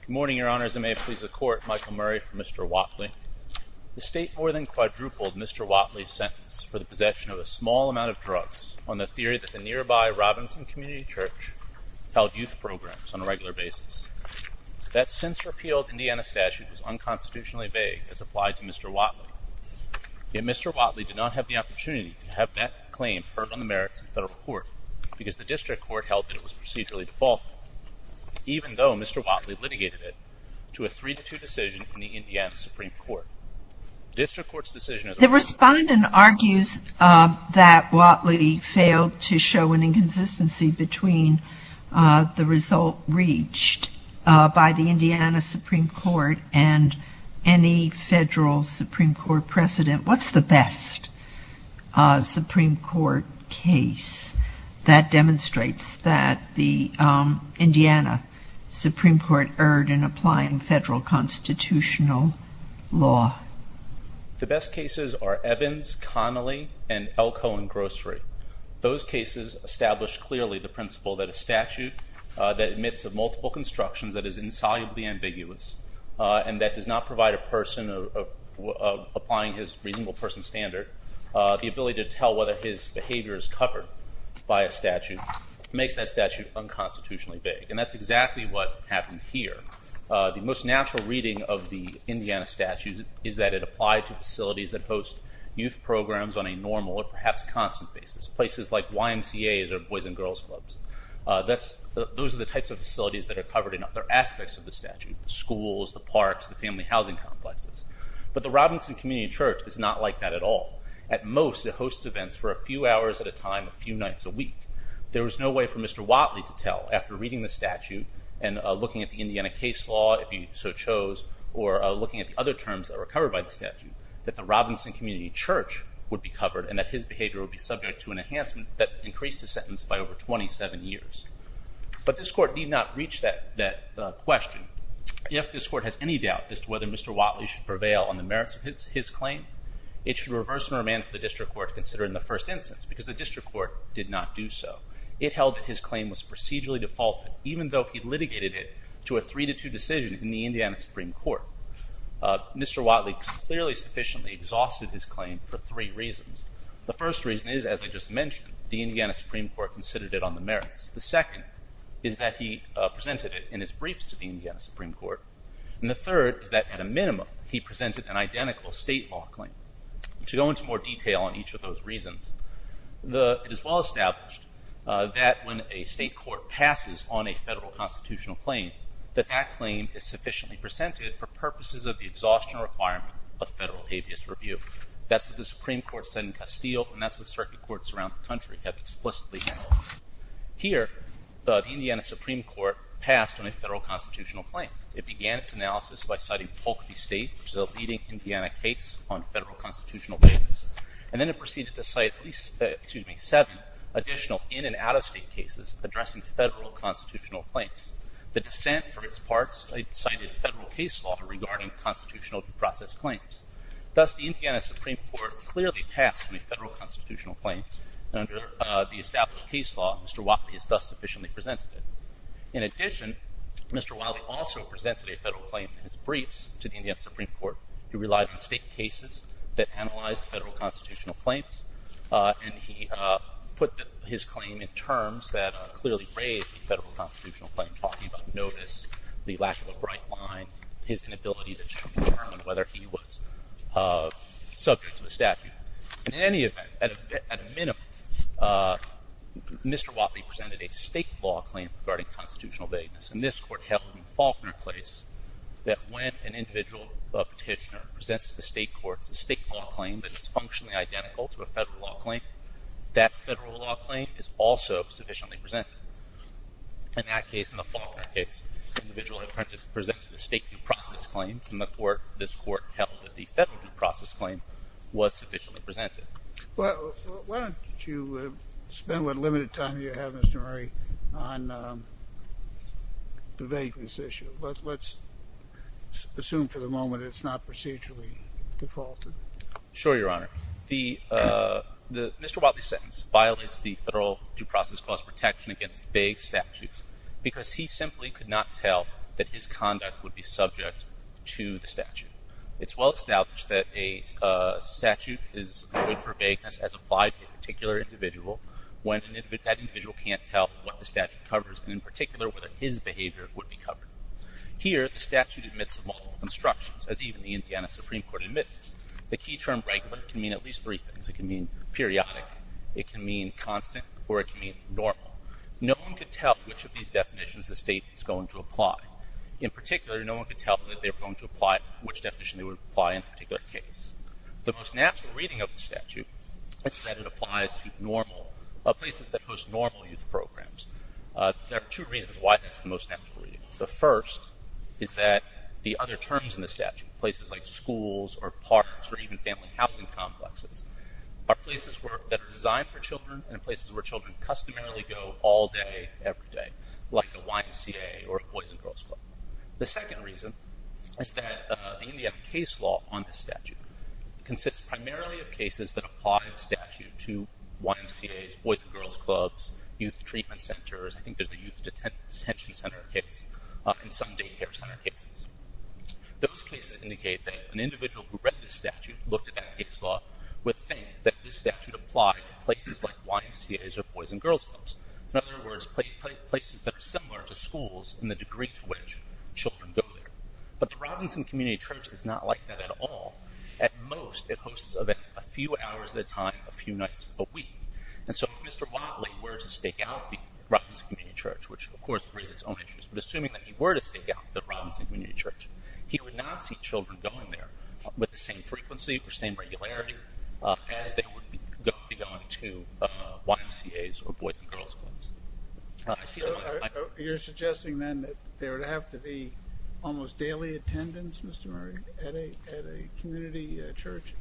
Good morning, Your Honors, and may it please the Court, Michael Murray for Mr. Whatley. The State more than quadrupled Mr. Whatley's sentence for the possession of a small amount of drugs on the theory that the nearby Robinson Community Church held youth programs on a regular basis. That since-repealed Indiana statute is unconstitutionally vague as applied to Mr. Whatley. Yet Mr. Whatley did not have the opportunity to have that claim heard on the merits of the Federal Court because the District Court held that it was procedurally defaulted. Even though Mr. Whatley litigated it to a 3-2 decision from the Indiana Supreme Court. The District Court's decision is- The Respondent argues that Whatley failed to show an inconsistency between the result reached by the Indiana Supreme Court and any Federal Supreme Court precedent. What's the best Supreme Court case that demonstrates that the Indiana Supreme Court erred in applying Federal constitutional law? The best cases are Evans, Connolly, and Elko and Grocery. Those cases establish clearly the principle that a statute that admits of multiple constructions that is insolubly ambiguous and that does not provide a person applying his reasonable person standard the ability to tell whether his behavior is covered by a statute makes that statute unconstitutionally vague. And that's exactly what happened here. The most natural reading of the Indiana statute is that it applied to facilities that host youth programs on a normal or perhaps constant basis. Places like YMCA's or Boys and Girls Clubs. Those are the types of facilities that are covered in other aspects of the statute. Schools, the parks, the family housing complexes. But the Robinson Community Church is not like that at all. At most it hosts events for a few hours at a time, a few nights a week. There was no way for Mr. Whatley to tell after reading the statute and looking at the Indiana case law if he so chose or looking at the other terms that were covered by the statute that the Robinson Community Church would be covered and that his behavior would be subject to an enhancement that increased his sentence by over 27 years. But this court did not reach that question. If this court has any doubt as to whether Mr. Whatley should prevail on the merits of his claim it should reverse and remand the district court to consider it in the first instance because the district court did not do so. It held that his claim was procedurally defaulted even though he litigated it to a 3-2 decision in the Indiana Supreme Court. Mr. Whatley clearly sufficiently exhausted his claim for three reasons. The first reason is, as I just mentioned, the Indiana Supreme Court considered it on the merits. The second is that he presented it in his briefs to the Indiana Supreme Court. And the third is that at a minimum he presented an identical state law claim. To go into more detail on each of those reasons, it is well established that when a state court passes on a federal constitutional claim that that claim is sufficiently presented for purposes of the exhaustion requirement of federal habeas review. That's what the Supreme Court said in Castile and that's what circuit courts around the country have explicitly held. Here, the Indiana Supreme Court passed on a federal constitutional claim. It began its analysis by citing Polk v. State, which is a leading Indiana case on federal constitutional basis. And then it proceeded to cite at least seven additional in and out-of-state cases addressing federal constitutional claims. The dissent for its parts cited federal case law regarding constitutional due process claims. Thus, the Indiana Supreme Court clearly passed on a federal constitutional claim. And under the established case law, Mr. Whatley has thus sufficiently presented it. In addition, Mr. Whatley also presented a federal claim in his briefs to the Indiana Supreme Court. He relied on state cases that analyzed federal constitutional claims. And he put his claim in terms that clearly raised the federal constitutional claim, talking about notice, the lack of a bright line, his inability to determine whether he was subject to the statute. In any event, at a minimum, Mr. Whatley presented a state law claim regarding constitutional vagueness. And this court held in Faulkner case that when an individual petitioner presents to the state courts a state law claim that is functionally identical to a federal law claim, that federal law claim is also sufficiently presented. In that case, in the Faulkner case, the individual presented a state due process claim, and this court held that the federal due process claim was sufficiently presented. Well, why don't you spend what limited time you have, Mr. Murray, on the vagueness issue. Let's assume for the moment it's not procedurally defaulted. Sure, Your Honor. Mr. Whatley's sentence violates the federal due process clause protection against vague statutes because he simply could not tell that his conduct would be subject to the statute. It's well established that a statute is good for vagueness as applied to a particular individual when that individual can't tell what the statute covers, and in particular whether his behavior would be covered. Here, the statute admits multiple constructions, as even the Indiana Supreme Court admitted. The key term regular can mean at least three things. It can mean periodic, it can mean constant, or it can mean normal. No one could tell which of these definitions the state was going to apply. In particular, no one could tell that they were going to apply which definition they would apply in a particular case. The most natural reading of the statute is that it applies to places that host normal youth programs. There are two reasons why that's the most natural reading. The first is that the other terms in the statute, places like schools or parks or even family housing complexes, are places that are designed for children and places where children customarily go all day, every day, like a YMCA or a Boys and Girls Club. The second reason is that the Indiana case law on this statute consists primarily of cases that apply the statute to YMCAs, Boys and Girls Clubs, youth treatment centers. I think there's a youth detention center case and some daycare center cases. Those places indicate that an individual who read this statute, looked at that case law, would think that this statute applied to places like YMCAs or Boys and Girls Clubs. In other words, places that are similar to schools in the degree to which children go there. But the Robinson Community Church is not like that at all. At most, it hosts events a few hours at a time, a few nights a week. And so if Mr. Watley were to stake out the Robinson Community Church, which of course raises its own issues, but assuming that he were to stake out the Robinson Community Church, he would not see children going there with the same frequency or same regularity as they would be going to YMCAs or Boys and Girls Clubs. So you're suggesting then that there would have to be almost daily attendance, Mr. Murray, at a community church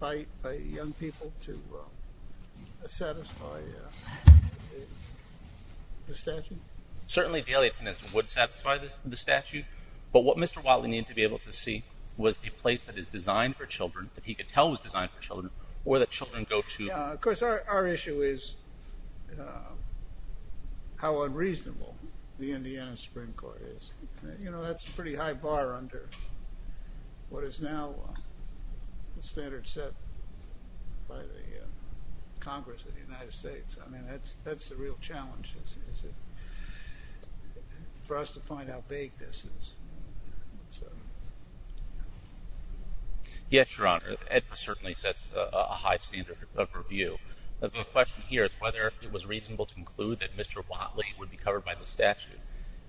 by young people to satisfy the statute? Certainly daily attendance would satisfy the statute. But what Mr. Watley needed to be able to see was a place that is designed for children, that he could tell was designed for children, or that children go to. Of course, our issue is how unreasonable the Indiana Supreme Court is. You know, that's a pretty high bar under what is now the standard set by the Congress of the United States. I mean, that's the real challenge is for us to find out how vague this is. Yes, Your Honor, it certainly sets a high standard of review. The question here is whether it was reasonable to conclude that Mr. Watley would be covered by the statute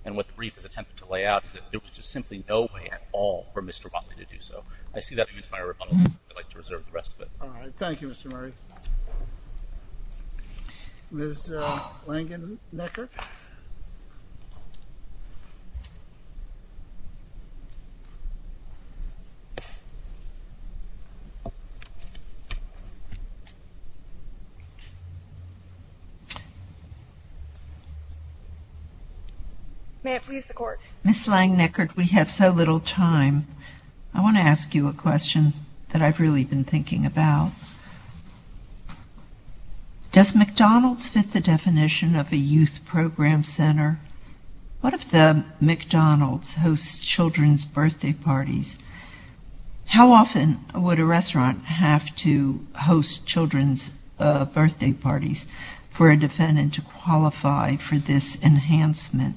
and what the brief is attempting to lay out is that there was just simply no way at all for Mr. Watley to do so. I see that leads to my rebuttal. I'd like to reserve the rest of it. All right. Thank you, Mr. Murray. Ms. Langenbecher? May it please the Court. Ms. Langenbecher, we have so little time. I want to ask you a question that I've really been thinking about. Does McDonald's fit the definition of a youth program center? What if the McDonald's hosts children's birthday parties? How often would a restaurant have to host children's birthday parties for a defendant to qualify for this enhancement?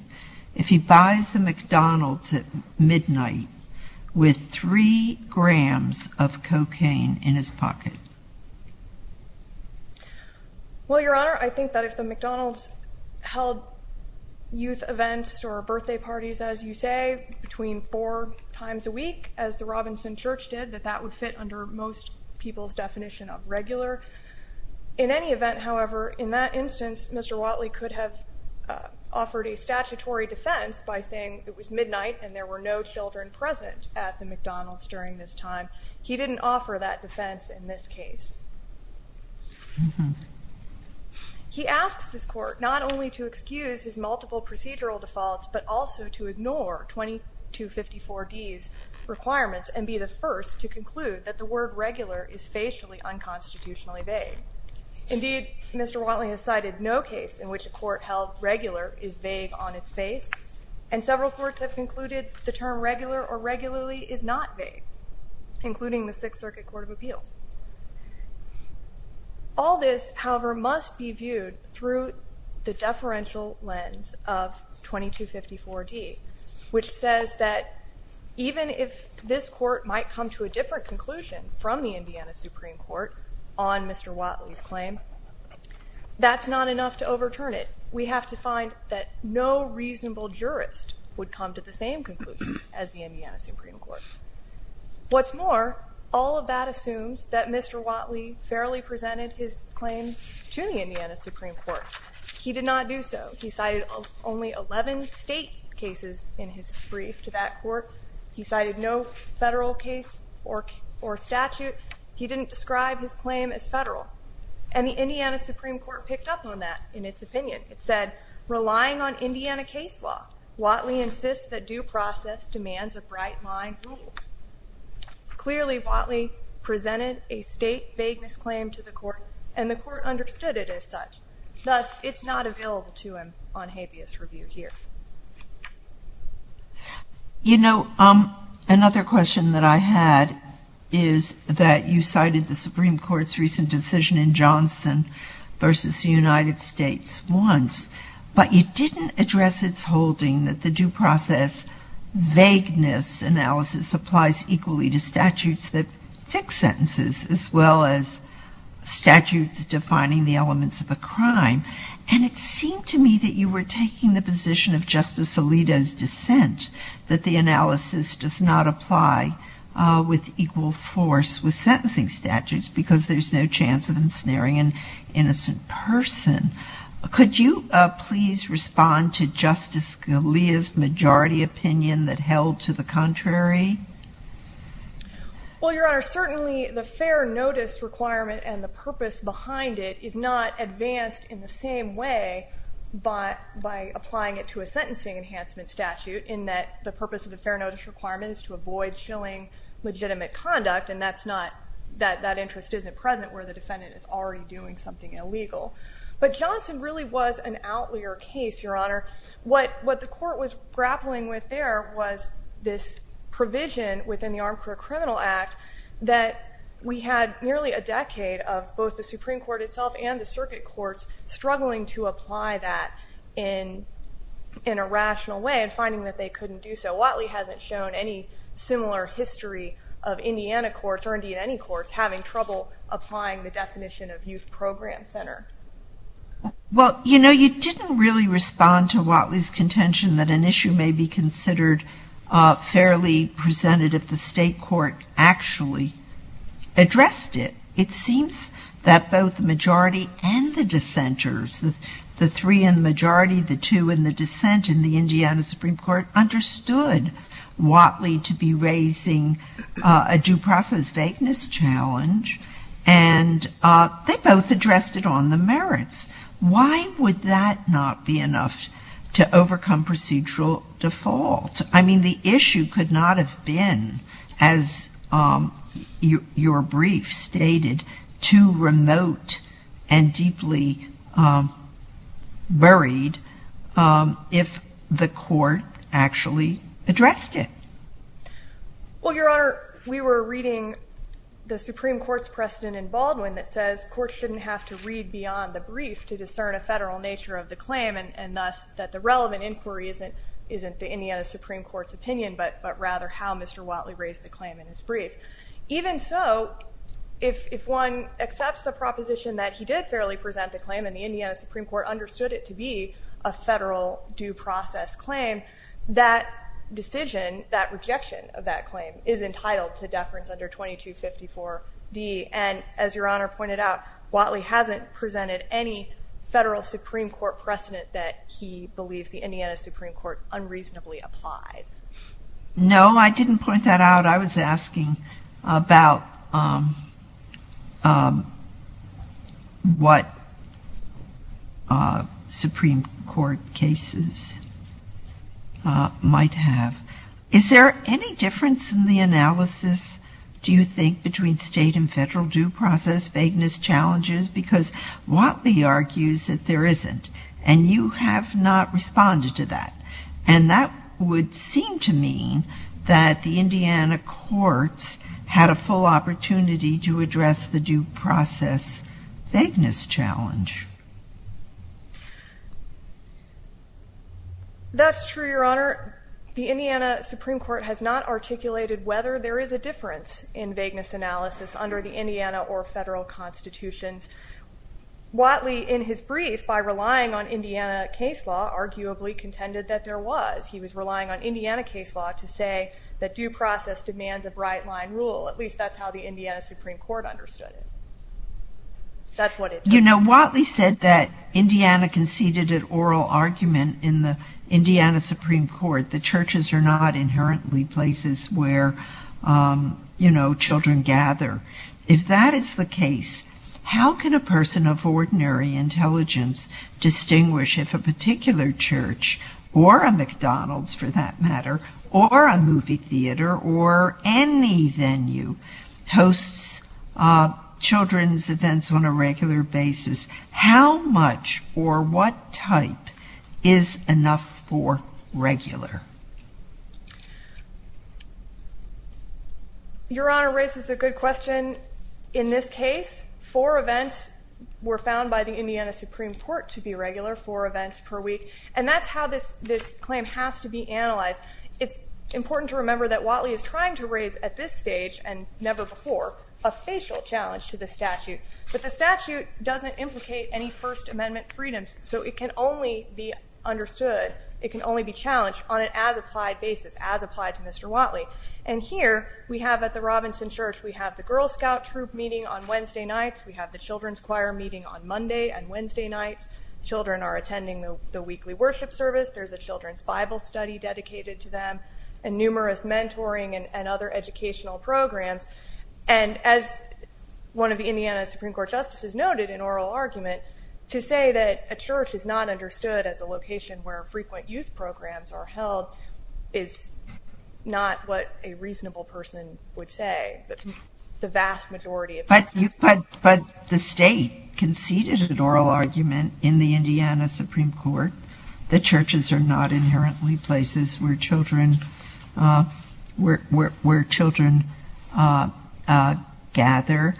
If he buys a McDonald's at midnight with three grams of cocaine in his pocket? Well, Your Honor, I think that if the McDonald's held youth events or birthday parties, as you say, between four times a week, as the Robinson Church did, that that would fit under most people's definition of regular. In any event, however, in that instance, Mr. Watley could have offered a statutory defense by saying it was midnight and there were no children present at the McDonald's during this time. He didn't offer that defense in this case. He asks this Court not only to excuse his multiple procedural defaults, but also to ignore 2254D's requirements and be the first to conclude that the word regular is facially unconstitutionally vague. Indeed, Mr. Watley has cited no case in which a court held regular is vague on its face, and several courts have concluded the term regular or regularly is not vague, including the Sixth Circuit Court of Appeals. All this, however, must be viewed through the deferential lens of 2254D, which says that even if this Court might come to a different conclusion from the Indiana Supreme Court on Mr. Watley's claim, that's not enough to overturn it. We have to find that no reasonable jurist would come to the same conclusion as the Indiana Supreme Court. What's more, all of that assumes that Mr. Watley fairly presented his claim to the Indiana Supreme Court. He did not do so. He cited only 11 state cases in his brief to that court. He cited no federal case or statute. He didn't describe his claim as federal. And the Indiana Supreme Court picked up on that in its opinion. It said, relying on Indiana case law, Watley insists that due process demands a bright line rule. Clearly, Watley presented a state vagueness claim to the court, and the court understood it as such. Thus, it's not available to him on habeas review here. You know, another question that I had is that you cited the Supreme Court's recent decision in Johnson v. United States once, but you didn't address its holding that the due process vagueness analysis applies equally to statutes that fix sentences as well as statutes defining the elements of a crime. And it seemed to me that you were taking the position of Justice Alito's dissent, that the analysis does not apply with equal force with sentencing statutes, because there's no chance of ensnaring an innocent person. Could you please respond to Justice Scalia's majority opinion that held to the contrary? Well, Your Honor, certainly the fair notice requirement and the purpose behind it is not advanced in the same way by applying it to a sentencing enhancement statute, in that the purpose of the fair notice requirement is to avoid showing legitimate conduct, and that interest isn't present where the defendant is already doing something illegal. But Johnson really was an outlier case, Your Honor. What the court was grappling with there was this provision within the Armed Career Criminal Act that we had nearly a decade of both the Supreme Court itself and the circuit courts struggling to apply that in a rational way and finding that they couldn't do so. Watley hasn't shown any similar history of Indiana courts or Indiana courts having trouble applying the definition of youth program center. Well, you know, you didn't really respond to Watley's contention that an issue may be considered fairly presented if the state court actually addressed it. It seems that both the majority and the dissenters, the three in the majority, the two in the dissent in the Indiana Supreme Court, understood Watley to be raising a due process vagueness challenge, and they both addressed it on the merits. Why would that not be enough to overcome procedural default? I mean, the issue could not have been, as your brief stated, too remote and deeply buried if the court actually addressed it. Well, Your Honor, we were reading the Supreme Court's precedent in Baldwin that says courts shouldn't have to read beyond the brief to discern a federal nature of the claim and thus that the relevant inquiry isn't the Indiana Supreme Court's opinion, but rather how Mr. Watley raised the claim in his brief. Even so, if one accepts the proposition that he did fairly present the claim and the Indiana Supreme Court understood it to be a federal due process claim, that decision, that rejection of that claim, is entitled to deference under 2254D. And as Your Honor pointed out, Watley hasn't presented any federal Supreme Court precedent that he believes the Indiana Supreme Court unreasonably applied. No, I didn't point that out. I was asking about what Supreme Court cases might have. Is there any difference in the analysis, do you think, between state and federal due process vagueness challenges? Because Watley argues that there isn't, and you have not responded to that. And that would seem to mean that the Indiana courts had a full opportunity to address the due process vagueness challenge. That's true, Your Honor. The Indiana Supreme Court has not articulated whether there is a difference in vagueness analysis under the Indiana or federal constitutions. Watley, in his brief, by relying on Indiana case law, arguably contended that there was. He was relying on Indiana case law to say that due process demands a bright line rule. At least that's how the Indiana Supreme Court understood it. That's what it is. You know, Watley said that Indiana conceded an oral argument in the Indiana Supreme Court that churches are not inherently places where, you know, children gather. If that is the case, how can a person of ordinary intelligence distinguish if a particular church, or a McDonald's for that matter, or a movie theater, or any venue hosts children's events on a regular basis? How much or what type is enough for regular? Your Honor raises a good question. In this case, four events were found by the Indiana Supreme Court to be regular, four events per week. And that's how this claim has to be analyzed. It's important to remember that Watley is trying to raise at this stage, and never before, a facial challenge to the statute. But the statute doesn't implicate any First Amendment freedoms, so it can only be understood, it can only be challenged on an as-applied basis, as applied to Mr. Watley. And here we have at the Robinson Church, we have the Girl Scout troop meeting on Wednesday nights. We have the children's choir meeting on Monday and Wednesday nights. Children are attending the weekly worship service. There's a children's Bible study dedicated to them, and numerous mentoring and other educational programs. And as one of the Indiana Supreme Court justices noted in oral argument, to say that a church is not understood as a location where frequent youth programs are held is not what a reasonable person would say. But the state conceded an oral argument in the Indiana Supreme Court that churches are not inherently places where children gather.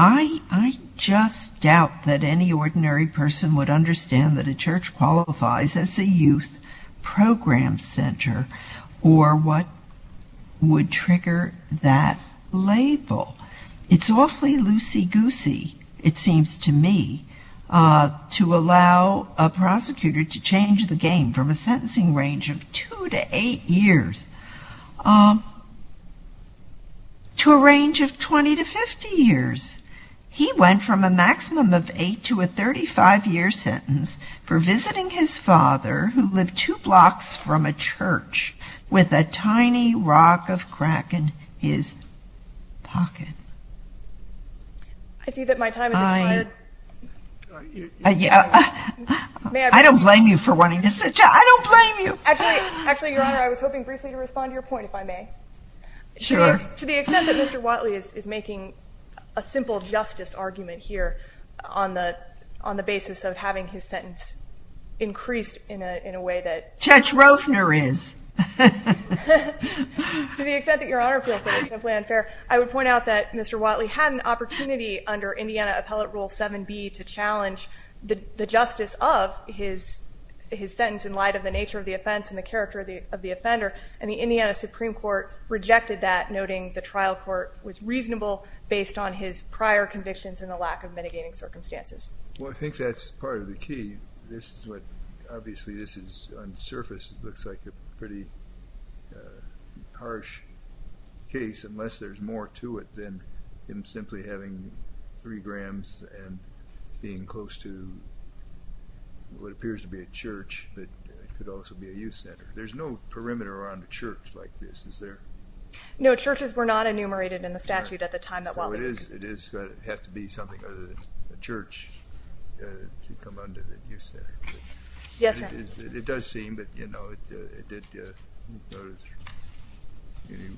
I just doubt that any ordinary person would understand that a church qualifies as a youth program center or what would trigger that label. It's awfully loosey-goosey, it seems to me, to allow a prosecutor to change the game from a sentencing range of 2 to 8 years to a range of 20 to 50 years. He went from a maximum of 8 to a 35-year sentence for visiting his father who lived two blocks from a church with a tiny rock of crack in his pocket. I see that my time has expired. I don't blame you for wanting to sit down. I don't blame you. Actually, Your Honor, I was hoping briefly to respond to your point, if I may. To the extent that Mr. Whatley is making a simple justice argument here on the basis of having his sentence increased in a way that... Judge Roefner is. To the extent that Your Honor feels that it's simply unfair, I would point out that Mr. Whatley had an opportunity under Indiana Appellate Rule 7B to challenge the justice of his sentence in light of the nature of the offense and the character of the offender, and the Indiana Supreme Court rejected that, noting the trial court was reasonable based on his prior convictions and the lack of mitigating circumstances. Well, I think that's part of the key. This is what... Obviously, this is, on the surface, looks like a pretty harsh case unless there's more to it than him simply having 3 grams and being close to what appears to be a church that could also be a youth center. There's no perimeter around a church like this, is there? No, churches were not enumerated in the statute at the time that Whatley was convicted. So it has to be something other than a church to come under the youth center. Yes, Your Honor. It does seem, but, you know, it did...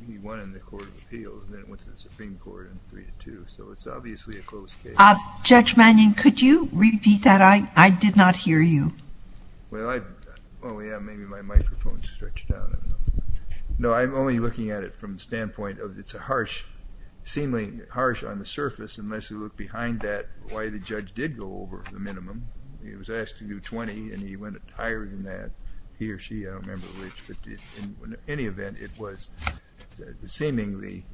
He won in the Court of Appeals, then it went to the Supreme Court in 3-2, so it's obviously a close case. Judge Mannion, could you repeat that? I did not hear you. Well, I... Oh, yeah, maybe my microphone stretched out. No, I'm only looking at it from the standpoint of it's a harsh, seemingly harsh on the surface unless you look behind that why the judge did go over the minimum. He was asked to do 20, and he went higher than that. He or she, I don't remember which, but in any event, it was seemingly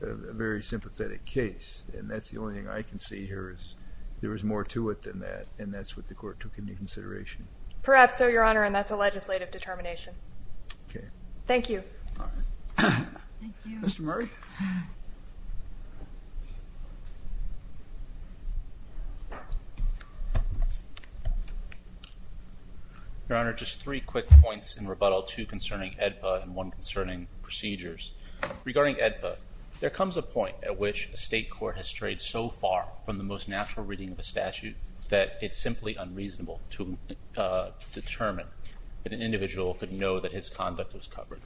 a very sympathetic case, and that's the only thing I can see here is there was more to it than that, and that's what the court took into consideration. Perhaps so, Your Honor, and that's a legislative determination. Okay. Thank you. All right. Thank you. Mr. Murray? Your Honor, just three quick points in rebuttal, two concerning AEDPA and one concerning procedures. Regarding AEDPA, there comes a point at which a state court has strayed so far from the most natural reading of a statute that it's simply unreasonable to determine that an individual could know that his conduct was covered.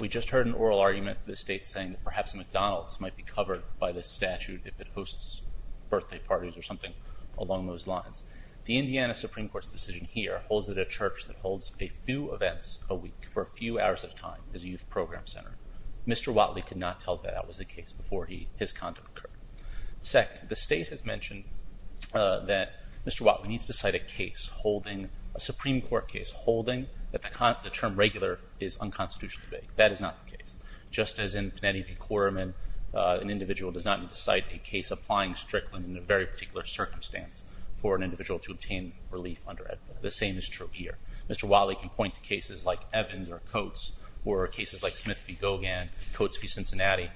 We just heard an oral argument of the state saying that perhaps McDonald's might be covered by this statute if it hosts birthday parties or something along those lines. The Indiana Supreme Court's decision here holds that a church that holds a few events a week for a few hours at a time is a youth program center. Mr. Watley could not tell that that was the case before his conduct occurred. Second, the state has mentioned that Mr. Watley needs to cite a case, a Supreme Court case, holding that the term regular is unconstitutionally vague. That is not the case. Just as in Kennedy v. Korerman, an individual does not need to cite a case applying Strickland in a very particular circumstance for an individual to obtain relief under AEDPA. The same is true here. Mr. Watley can point to cases like Evans or Coates or cases like Smith v. Kennedy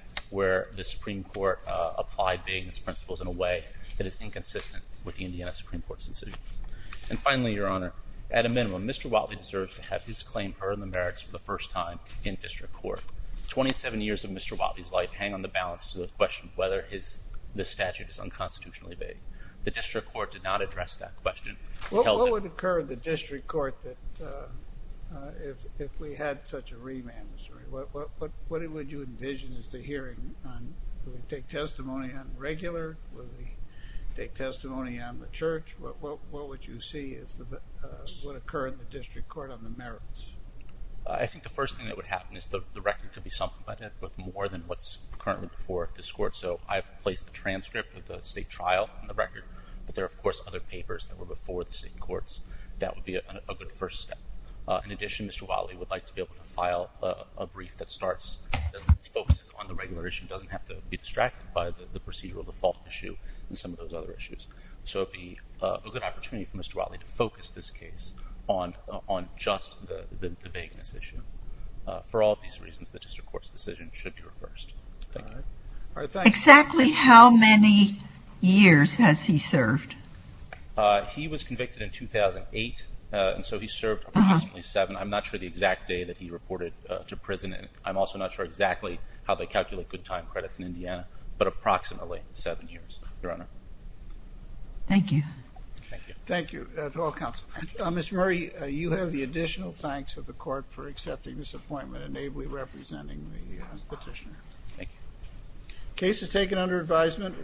that apply vagueness principles in a way that is inconsistent with the Indiana Supreme Court's decision. And finally, Your Honor, at a minimum, Mr. Watley deserves to have his claim earned the merits for the first time in district court. Twenty-seven years of Mr. Watley's life hang on the balance to the question of whether this statute is unconstitutionally vague. The district court did not address that question. What would occur in the district court if we had such a remand? What would you envision as the hearing? Would we take testimony on the regular? Would we take testimony on the church? What would you see as what would occur in the district court on the merits? I think the first thing that would happen is the record could be supplemented with more than what's currently before this court. So I've placed the transcript of the state trial on the record, but there are, of course, other papers that were before the state courts. That would be a good first step. In addition, Mr. Watley would like to be able to file a brief that starts and focuses on the regular issue. It doesn't have to be distracted by the procedural default issue and some of those other issues. So it would be a good opportunity for Mr. Watley to focus this case on just the vagueness issue. For all of these reasons, the district court's decision should be reversed. Thank you. Exactly how many years has he served? He was convicted in 2008, and so he served approximately seven. I'm not sure the exact day that he reported to prison, and I'm also not sure exactly how they calculate good time credits in Indiana, but approximately seven years, Your Honor. Thank you. Thank you. Thank you to all counsel. Mr. Murray, you have the additional thanks of the court for accepting this appointment and ably representing the petitioner. Thank you. The case is taken under advisement.